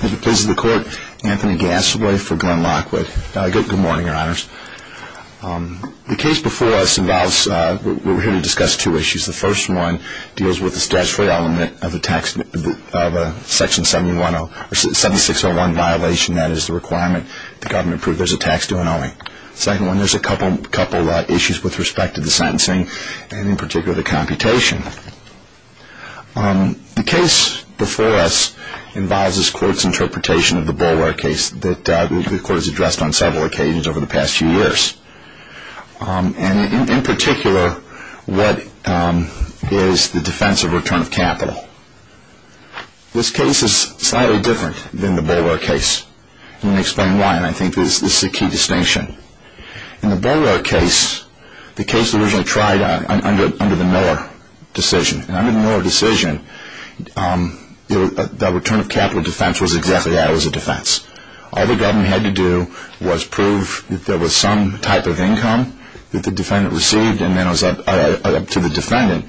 Good morning, your honors. The case before us involves, we're here to discuss two issues. The first one deals with the statutory element of a section 7601 violation, that is the requirement the government approve there's a tax due and owing. The second one, there's a couple issues with respect to the sentencing and in particular the computation. The case before us involves this court's interpretation of the Boulware case that the court has addressed on several occasions over the past few years. In particular, what is the defense of return of capital? This case is slightly different than the Boulware case. Let me explain why. I think this is a key distinction. In the Boulware case, the case was originally tried under the Miller decision. Under the Miller decision, the return of capital defense was exactly that, it was a defense. All the government had to do was prove there was some type of income that the defendant received and then it was up to the defendant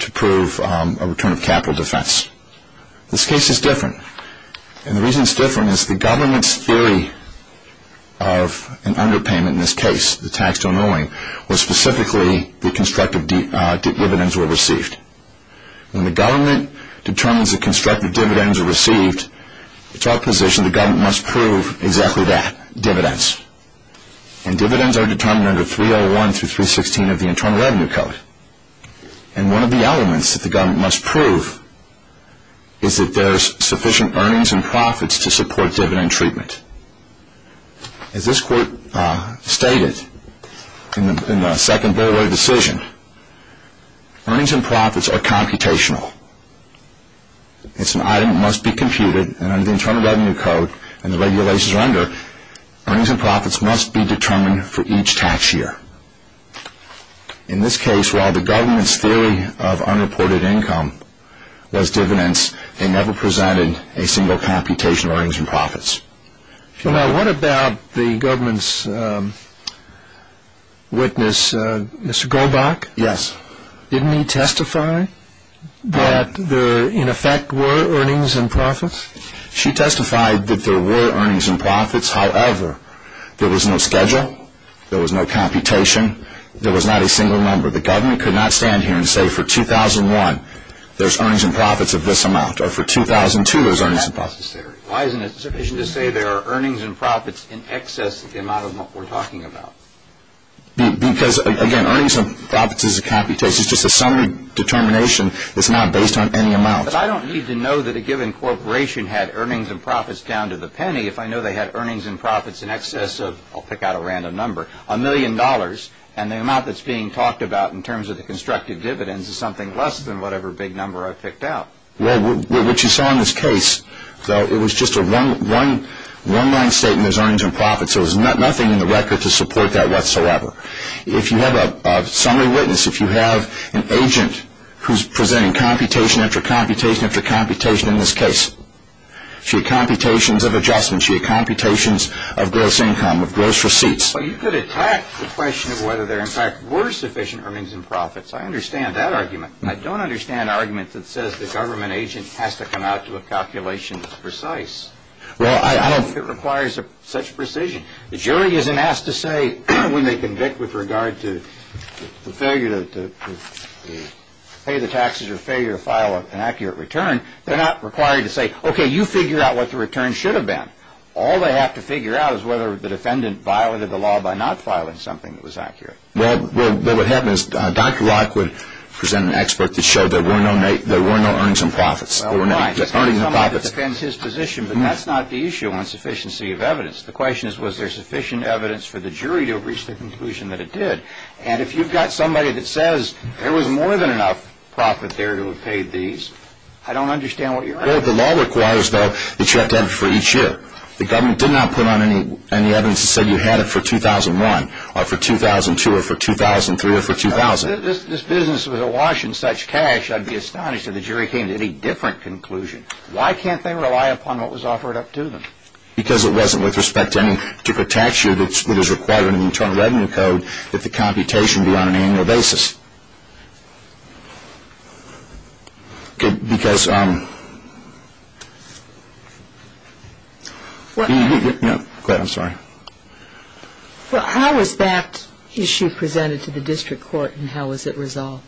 to prove a return of capital defense. This case is different. The reason it's different is the government's theory of an underpayment in this case, the tax due and owing, was specifically that constructive dividends were received. When the government determines that constructive dividends are received, it's our position the government must prove exactly that, dividends. Dividends are determined under 301 through 316 of the Internal Revenue Code. One of the elements that the government must prove is that there's sufficient earnings and profits to support dividend treatment. As this court stated in the second Boulware decision, earnings and profits are computational. It's an item that must be computed and under the Internal Revenue Code and the regulations under, earnings and profits must be determined for each tax year. In this case, while the government's theory of unreported income was true, there was no computational earnings and profits. Now what about the government's witness, Mr. Goldbach? Yes. Didn't he testify that there in effect were earnings and profits? She testified that there were earnings and profits, however, there was no schedule, there was no computation, there was not a single number. The government could not stand here and say for 2001 there's earnings and profits of this amount, or for 2002 there's earnings and profits. That's not necessary. Why isn't it sufficient to say there are earnings and profits in excess of the amount of what we're talking about? Because, again, earnings and profits is a computation, it's just a summary determination, it's not based on any amount. But I don't need to know that a given corporation had earnings and profits down to the penny if I know they had earnings and profits in excess of, I'll pick out a random number, a million dollars, and the amount that's being talked about in terms of the constructed dividends is something less than whatever big number I've picked out. Well, what you saw in this case, though, it was just a one-line statement, there's earnings and profits, so there's nothing in the record to support that whatsoever. If you have a summary witness, if you have an agent who's presenting computation after computation after computation in this case, she had computations of adjustments, she had computations of gross income, of gross receipts. Well, you could attack the question of whether there, in fact, were sufficient earnings and profits. I understand that argument. I don't understand arguments that says the government agent has to come out to a calculation that's precise. Well, I don't think it requires such precision. The jury isn't asked to say when they convict with regard to the failure to pay the taxes or failure to file an accurate return, they're not required to say, okay, you figure out what the return should have been. All they have to figure out is whether the defendant violated the law by not filing something that was accurate. Well, what happened is Dr. Locke would present an expert that showed there were no earnings and profits. Well, why? Just because somebody defends his position, but that's not the issue on sufficiency of evidence. The question is was there sufficient evidence for the jury to reach the conclusion that it did? And if you've got somebody that says there was more than enough profit there to have paid these, I don't understand what you're arguing. Well, the law requires, though, that you have to have it for each year. The government did not put on any evidence that said you had it for 2001, or for 2002, or for 2003, or for 2000. This business was awash in such cash, I'd be astonished if the jury came to any different conclusion. Why can't they rely upon what was offered up to them? Because it wasn't with respect to any, to protect you, that it is required in the Internal Revenue Code that the computation be on an annual basis. Well, how was that issue presented to the district court, and how was it resolved?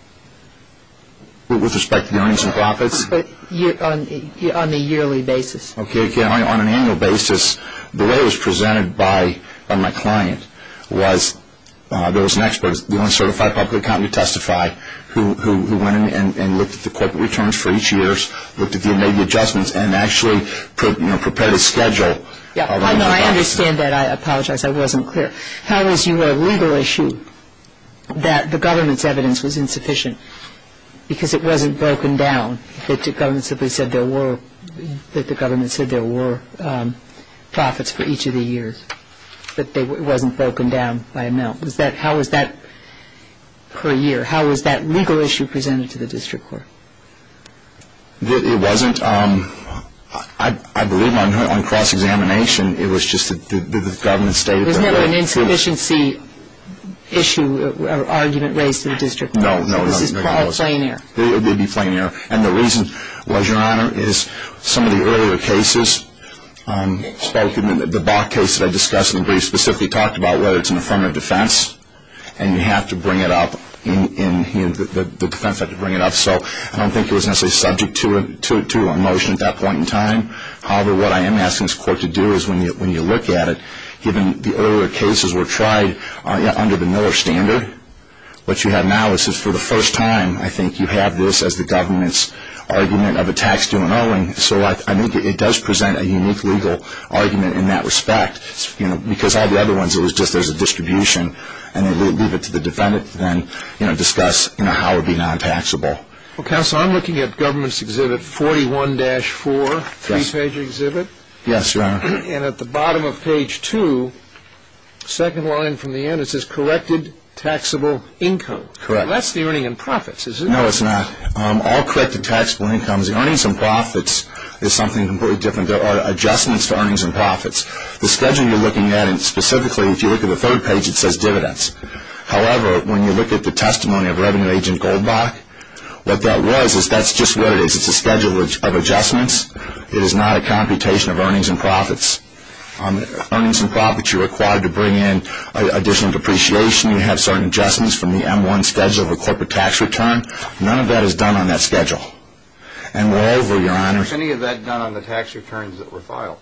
With respect to the earnings and profits? On a yearly basis. Okay, on an annual basis. The way it was presented by my client was there was an expert, the only certified public accountant to testify, who went in and looked at the corporate returns for each year, looked at the adjustments, and actually prepared a schedule. I understand that, I apologize, I wasn't clear. How was your legal issue that the government's evidence was insufficient because it wasn't broken down, that the government said there were profits for each of the years, but it wasn't broken down by a mill? How was that per year? How was that legal issue presented to the district court? It wasn't, I believe on cross-examination, it was just that the government stated... There was never an insufficiency issue or argument raised to the district court? No, no. This is called plain error. It would be plain error. And the reason, Your Honor, is some of the earlier cases spoken, the Bok case that I discussed in the brief, specifically talked about whether it's an affirmative defense, and you have to bring it up, the defense had to bring it up, so I don't think it was necessarily subject to a motion at that point in time. However, what I am asking this court to do is when you look at it, given the earlier cases were tried under the Miller standard, what you have now is that for the first time, I think you have this as the government's argument of a tax due and owing, so I think it does present a unique legal argument in that respect, because all the other ones, it was just there's a distribution, and they leave it to the defendant to then discuss how it would be non-taxable. Well, Counselor, I'm looking at government's exhibit 41-4, three-page exhibit, and at the bottom of page 2, second line from the end, it says corrected taxable income. That's the earnings and profits, is it? No, it's not. All corrected taxable incomes. The earnings and profits is something completely different. There are adjustments to earnings and profits. The schedule you're looking at, and specifically, if you look at the third page, it says dividends. However, when you look at the testimony of Revenue Agent Goldbach, what that was is that's just what it is. It's a schedule of adjustments. It is not a computation of earnings and profits. On the earnings and profits, you're required to bring in additional depreciation. You have certain adjustments from the M-1 schedule of a corporate tax return. None of that is done on that schedule. And moreover, Your Honor, any of that done on the tax returns that were filed?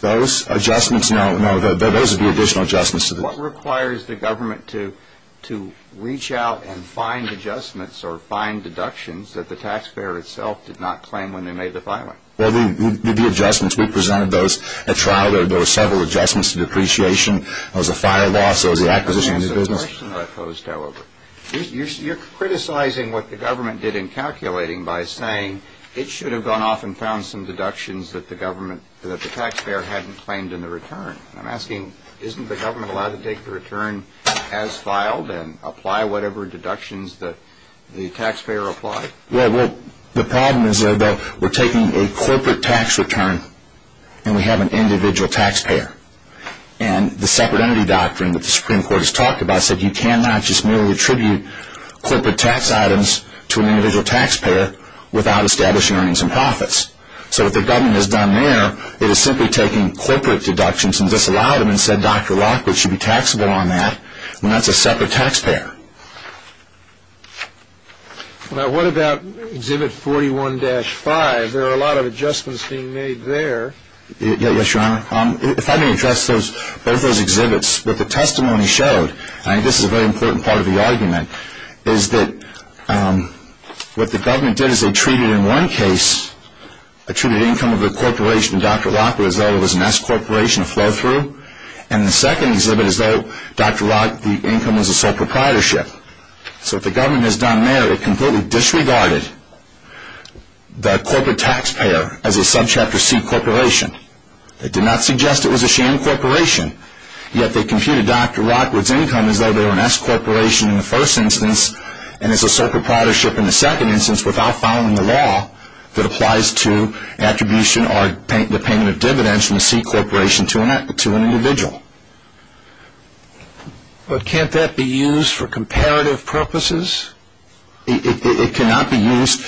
Those adjustments, no, no, those are the additional adjustments. What requires the government to reach out and find adjustments or find deductions that the taxpayer itself did not claim when they made the filing? Well, the adjustments. We presented those at trial. There were several adjustments to depreciation. There was a fire loss. There was the acquisition of the business. You're criticizing what the It should have gone off and found some deductions that the government, that the taxpayer hadn't claimed in the return. I'm asking, isn't the government allowed to take the return as filed and apply whatever deductions that the taxpayer applied? Well, the problem is that we're taking a corporate tax return and we have an individual taxpayer. And the separate entity doctrine that the Supreme Court has talked about said you cannot just merely attribute corporate tax items to an individual taxpayer without establishing earnings and profits. So what the government has done there, it has simply taken corporate deductions and disallowed them and said Dr. Lockwood should be taxable on that when that's a separate taxpayer. Now, what about Exhibit 41-5? There are a lot of adjustments being made there. Yes, Your Honor. If I may address both those exhibits, what the testimony showed, I think this is a very important part of the argument, is that what the government did is they treated in one case, they treated the income of the corporation, Dr. Lockwood, as though it was an S-corporation, a flow-through. And in the second exhibit, as though Dr. Lockwood's income was a sole proprietorship. So what the government has done there, it completely disregarded the corporate taxpayer as a Subchapter C corporation. It did not suggest it was a sham corporation. Yet, they computed Dr. Lockwood's income as though they were an S-corporation in the first instance and as a sole proprietorship in the second instance without following the law that applies to attribution or the payment of dividends from a C-corporation to an individual. But can't that be used for comparative purposes? It cannot be used.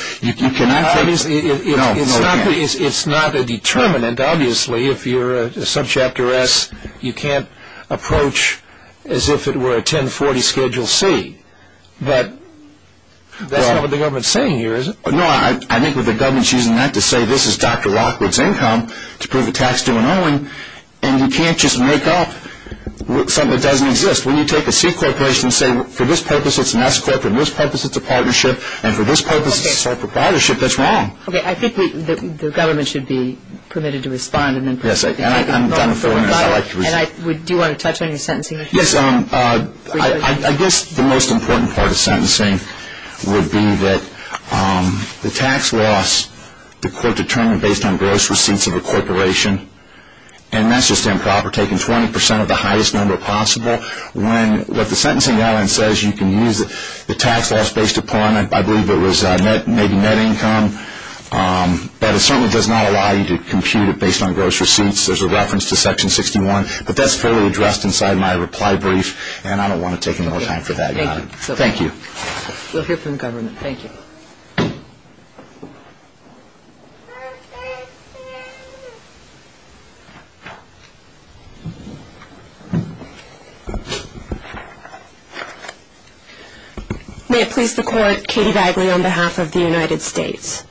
It's not a determinant, obviously, if you're a Subchapter S, you can't approach as if it were a 1040 Schedule C. But that's not what the government's saying here, is it? No, I think what the government's using that to say this is Dr. Lockwood's income to prove a tax due and owing, and you can't just make up something that doesn't exist. When you take a C-corporation and say, for this purpose it's an S-corporation, for this purpose it's a partnership, and for this purpose it's a sole proprietorship, that's wrong. Okay, I think the government should be permitted to respond. Yes, and I'm done for. Do you want to touch on your sentencing issue? Yes, I guess the most important part of sentencing would be that the tax loss, the court determined based on gross receipts of a corporation, and that's just improper, taking 20% of the I believe it was maybe net income, but it certainly does not allow you to compute it based on gross receipts. There's a reference to Section 61, but that's fairly addressed inside my reply brief, and I don't want to take any more time for that. Okay, thank you. Thank you. We'll hear from the government. Thank you. May it please the court, Katie Bagley on behalf of the United States.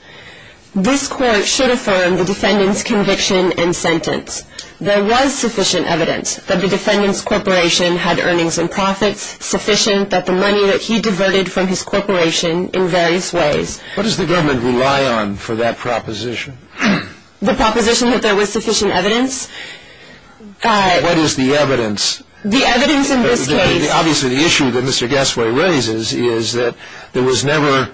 This court should affirm the defendant's conviction and sentence. There was sufficient evidence that the defendant's corporation had earnings and profits, sufficient that the money that he diverted from his corporation in various ways. What does the government rely on for that proposition? The proposition that there was sufficient evidence. What is the evidence? The evidence in this case. Obviously, the issue that Mr. Gasway raises is that there was never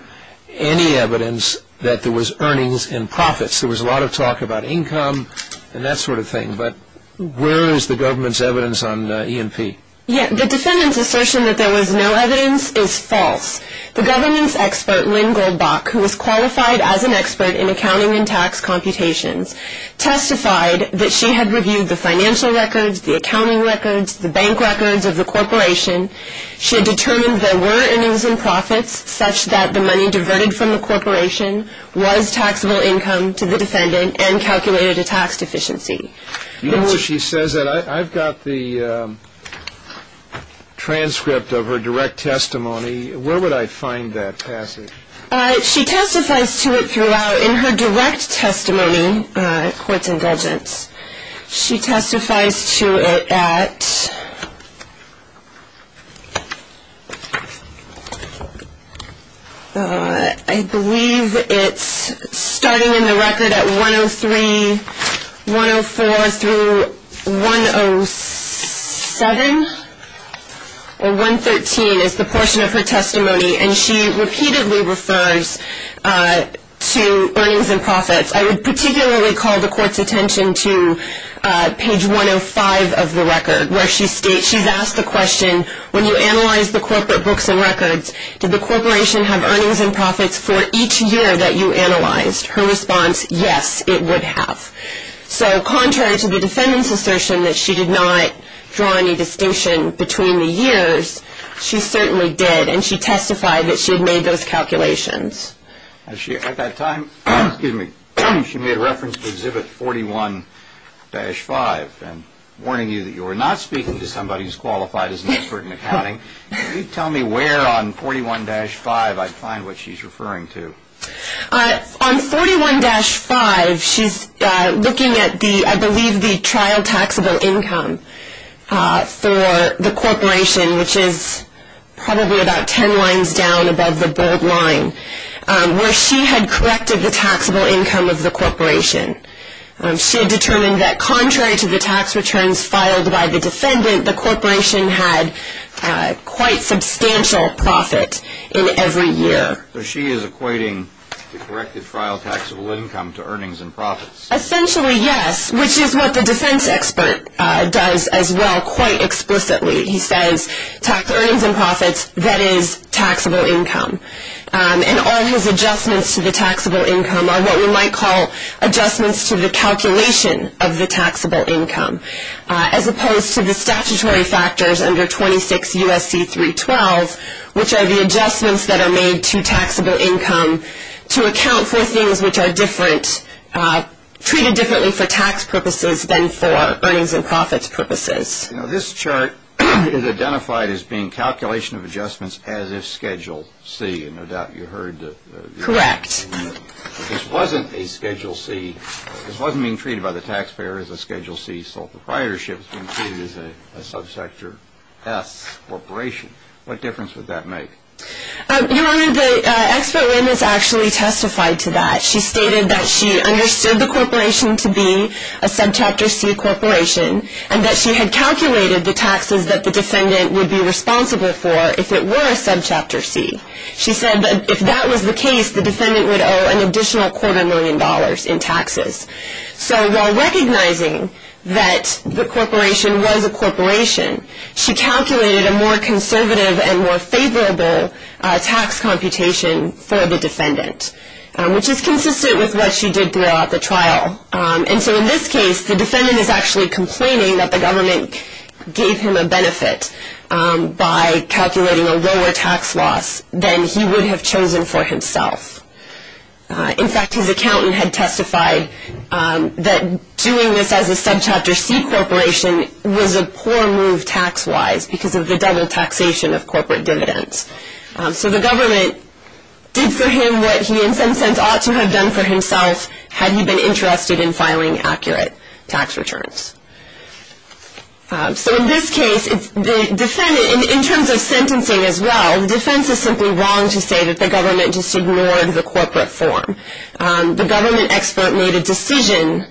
any evidence that there was earnings and profits. There was a lot of talk about income and that sort of thing, but where is the government's evidence on E&P? The defendant's assertion that there was no evidence is false. The government's expert, Lynn Goldbach, who was qualified as an expert in accounting and tax computations, testified that she had reviewed the financial records, the accounting records, the bank records of the corporation. She had determined there were earnings and profits such that the money diverted from the corporation was taxable income to the defendant and calculated a tax deficiency. You know where she says that? I've got the transcript of her direct testimony. Where would I find that passage? She testifies to it throughout. In her direct testimony, Courts and Dedgents, she testifies to it at, I believe it's starting in the record at 103, 104 through 107 or 113 is the portion of her testimony, and she repeatedly refers to earnings and profits. I would particularly call the court's attention to page 105 of the record, where she states, she's asked the question, when you analyze the corporate books and records, did the corporation have earnings and profits for each year that you analyzed? Her response, yes, it would have. So contrary to the defendant's assertion that she did not draw any distinction between the years, she certainly did, and she testified that she had made those calculations. At that time, she made reference to Exhibit 41-5, and warning you that you are not speaking to somebody who's qualified as an expert in accounting, can you tell me where on 41-5 I'd find what she's referring to? On 41-5, she's looking at the, I believe the trial taxable income for the corporation, which is probably about 10 lines down above the bold line, where she had corrected the taxable income of the corporation. She had determined that contrary to the tax returns filed by the defendant, the corporation had quite substantial profit in every year. So she is equating the corrected trial taxable income to earnings and profits? Essentially, yes, which is what the defense expert does as well, quite explicitly. He says, earnings and profits, that is taxable income, and all his adjustments to the taxable income are what we might call adjustments to the calculation of the taxable income, as opposed to the statutory factors under 26 U.S.C. 312, which are the adjustments that are made to taxable income to account for things which are different, treated differently for tax purposes than for earnings and profits purposes. Now this chart is identified as being calculation of adjustments as of Schedule C, and no doubt you heard that. Correct. This wasn't a Schedule C, this wasn't being treated by the taxpayer as a Schedule C sole proprietorship, it was being treated as a subsector S corporation. What difference would that make? Your Honor, the expert witness actually testified to that. She stated that she understood the corporation to be a subchapter C corporation, and that she had calculated the taxes that the defendant would be responsible for if it were a subchapter C. She said that if that was the case, the defendant would owe an additional quarter million dollars in taxes. So while recognizing that the corporation was a corporation, she calculated a more conservative and more favorable tax computation for the defendant, which is consistent with what she did throughout the trial. And so in this case, the defendant is actually complaining that the government gave him a benefit by calculating a lower tax loss than he would have chosen for himself. In fact, his accountant had testified that doing this as a subchapter C corporation was a poor move tax-wise because of the double taxation of corporate dividends. So the government did for him what he in some sense ought to have done for himself had he been interested in filing accurate tax returns. So in this case, in terms of sentencing as well, the defense is simply wrong to say that the government just ignored the corporate form. The government expert made a decision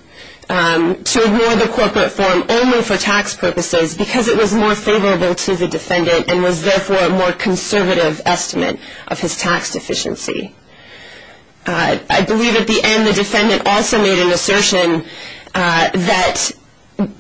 to ignore the corporate form only for tax purposes because it was more favorable to the defendant and was therefore a more conservative estimate of his tax deficiency. I believe at the end the defendant also made an assertion that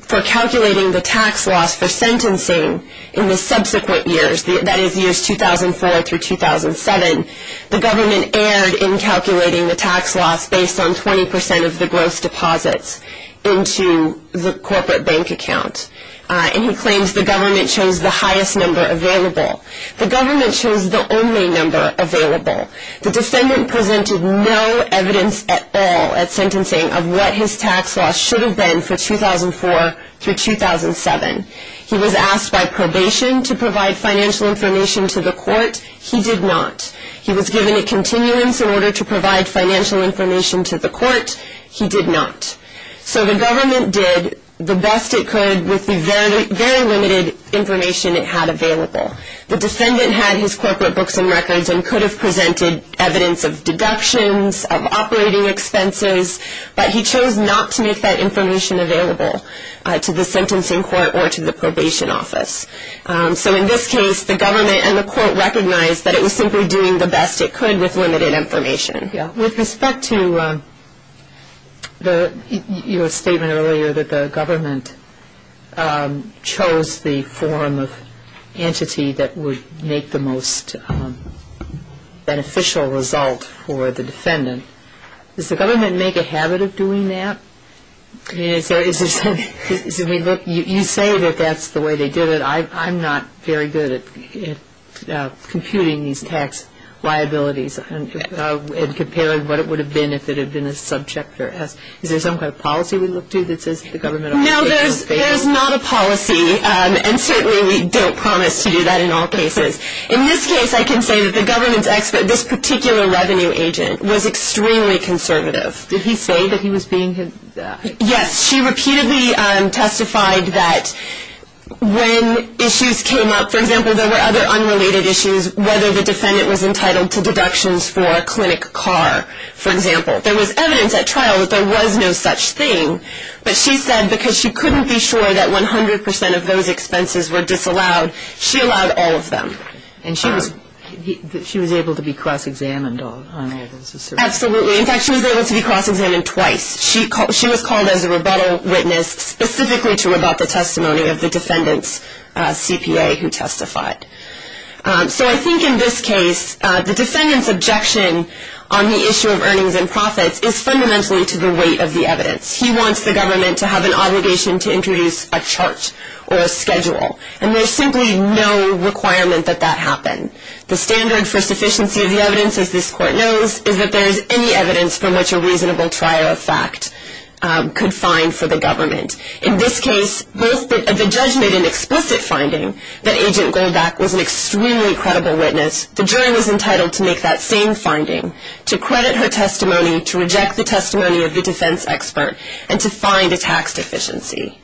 for calculating the tax loss for sentencing in the subsequent years, that is years 2004 through 2007, the government erred in calculating the tax loss based on 20 percent of the gross deposits into the corporate bank account. And he claims the government chose the highest number available. The government chose the only number available. The defendant presented no evidence at all at sentencing of what his tax loss should have been for 2004 through 2007. He was asked by probation to provide financial information to the court. He did not. He was given a continuance in order to provide financial information to the court. He did not. So the government did the best it could with the very limited information it had available. The defendant had his corporate books and records and could have presented evidence of deductions, of operating expenses, but he chose not to make that information available to the sentencing court or to the probation office. So in this case the government and the court recognized that it was simply doing the best it could with limited information. With respect to your statement earlier that the government chose the form of entity that would make the most beneficial result for the defendant, does the government make a habit of doing that? You say that that's the way they did it. I'm not very good at computing these tax liabilities and comparing what it would have been if it had been a subject for us. Is there some kind of policy we look to that says that the government ought to make this available? No, there is not a policy, and certainly we don't promise to do that in all cases. In this case I can say that the government's expert, this particular revenue agent, was extremely conservative. Did he say that he was being conservative? Yes. She repeatedly testified that when issues came up, for example, there were other unrelated issues, whether the defendant was entitled to deductions for a clinic car, for example. There was evidence at trial that there was no such thing, but she said because she couldn't be sure that 100 percent of those expenses were disallowed, she allowed all of them. And she was able to be cross-examined on all those assertions? Absolutely. In fact, she was able to be cross-examined twice. She was called as a rebuttal witness specifically to rebut the testimony of the defendant's CPA who testified. So I think in this case the defendant's objection on the issue of earnings and profits is fundamentally to the weight of the evidence. He wants the government to have an obligation to introduce a chart or a schedule, and there's simply no requirement that that happen. The standard for sufficiency of the evidence, as this court knows, is that there is any evidence from which a reasonable trial of fact could find for the government. In this case, both the judge made an explicit finding that Agent Goldbach was an extremely credible witness. The jury was entitled to make that same finding, to credit her testimony, to reject the testimony of the defense expert, and to find a tax deficiency.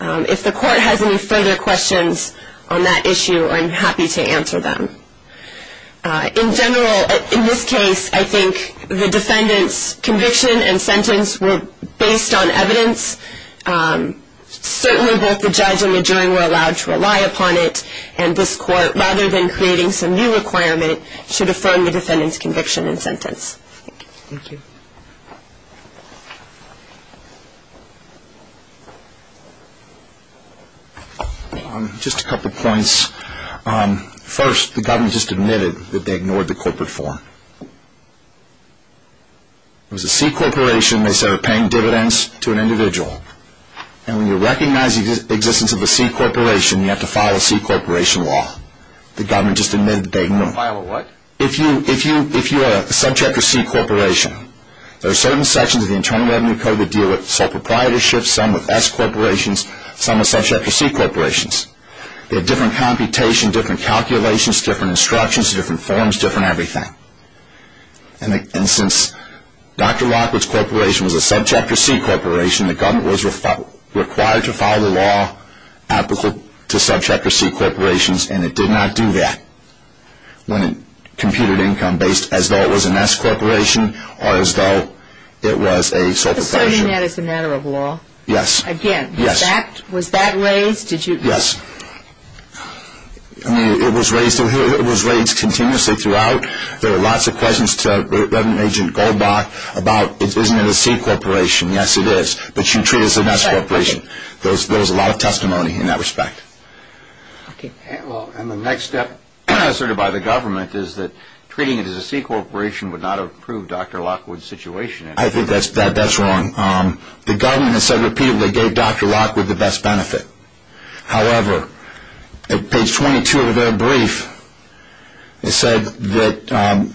If the court has any further questions on that issue, I'm happy to answer them. In general, in this case, I think the defendant's conviction and sentence were based on evidence. Certainly both the judge and the jury were allowed to rely upon it, and this court, rather than creating some new requirement, should affirm the defendant's conviction and sentence. Thank you. Thank you. Just a couple of points. First, the government just admitted that they ignored the corporate form. It was a C corporation, they said, paying dividends to an individual, and when you recognize the existence of a C corporation, you have to file a C corporation law. The government just admitted that they ignored it. File a what? If you are a Subchapter C corporation, there are certain sections of the Internal Revenue Code that deal with sole proprietorship, some with S corporations, some with Subchapter C corporations. They have different computation, different calculations, different instructions, different forms, different everything. And since Dr. Lockwood's corporation was a Subchapter C corporation, the government was required to file the law applicable to Subchapter C corporations, and it did not do that. When it computed income based as though it was a S corporation, or as though it was a sole proprietorship. You're asserting that it's a matter of law? Yes. Again, was that raised? Yes. I mean, it was raised continuously throughout. There were lots of questions to Reverend Agent Goldbach about, isn't it a C corporation? Yes, it is. But you treat it as a S corporation. There was a lot of testimony in that respect. And the next step asserted by the government is that treating it as a C corporation would not improve Dr. Lockwood's situation. I think that's wrong. The government has said repeatedly it gave Dr. Lockwood the best benefit. However, at page 22 of their brief, it said that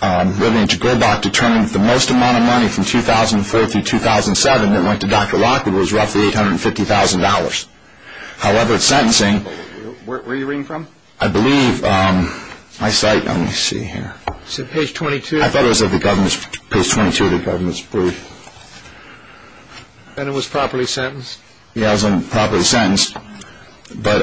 Reverend Agent Goldbach determined that the most amount of money from 2004 through 2007 that went to Dr. Lockwood was roughly $850,000. However, it's sentencing. Where are you reading from? I believe my site. Let me see here. It's at page 22. I thought it was at page 22 of the government's brief. And it was properly sentenced? Yes, it was properly sentenced. But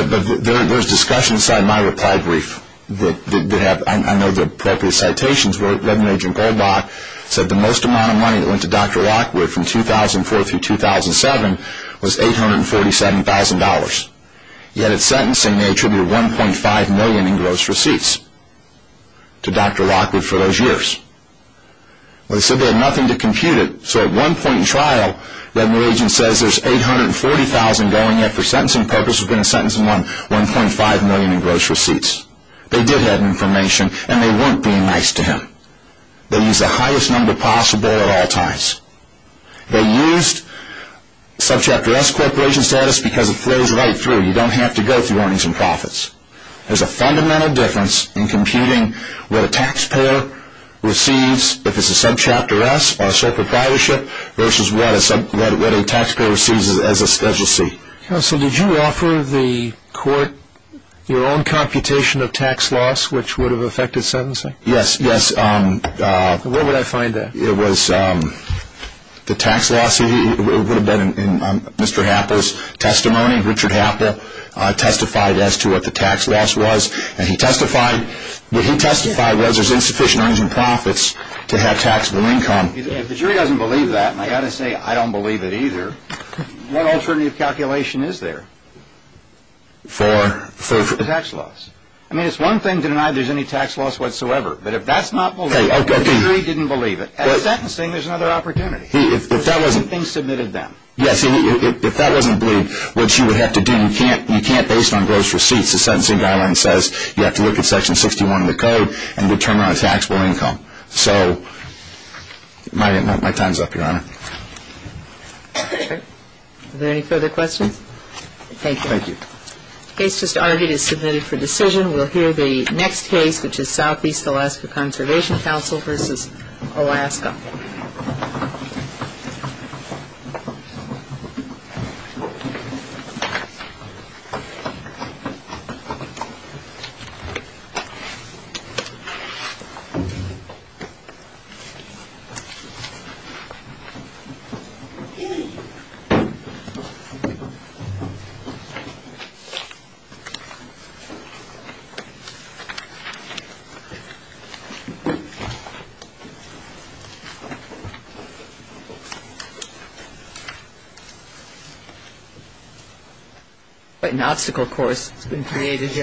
there's discussion inside my reply brief. I know the appropriate citations where Reverend Agent Goldbach said that the most amount of money that went to Dr. Lockwood from 2004 through 2007 was $847,000. Yet, it's sentencing. They attributed $1.5 million in gross receipts to Dr. Lockwood for those years. Well, they said they had nothing to compute it. So at one point in trial, Reverend Agent says there's $840,000 going in. For sentencing purposes, they're going to sentence him on $1.5 million in gross receipts. They did have information, and they weren't being nice to him. They used the highest number possible at all times. They used Subchapter S corporation status because it flows right through. You don't have to go through earnings and profits. There's a fundamental difference in computing what a taxpayer receives if it's a Subchapter S or a sole proprietorship versus what a taxpayer receives as a Special C. Counsel, did you offer the court your own computation of tax loss, which would have affected sentencing? Yes, yes. Where would I find that? It was the tax loss. It would have been in Mr. Happa's testimony. Richard Happa testified as to what the tax loss was, and he testified that he testified there's insufficient earnings and profits to have taxable income. If the jury doesn't believe that, and I've got to say I don't believe it either, what alternative calculation is there for the tax loss? I mean, it's one thing to deny there's any tax loss whatsoever, but if that's not believed, if the jury didn't believe it, at sentencing there's another opportunity. If that wasn't believed, what you would have to do, you can't based on gross receipts, the sentencing guideline says you have to look at Section 61 of the code and determine on taxable income. So my time's up, Your Honor. Are there any further questions? Thank you. Thank you. The case just argued is submitted for decision. We'll hear the next case, which is Southeast Alaska Conservation Council v. Alaska. Thank you, Your Honor. Yes.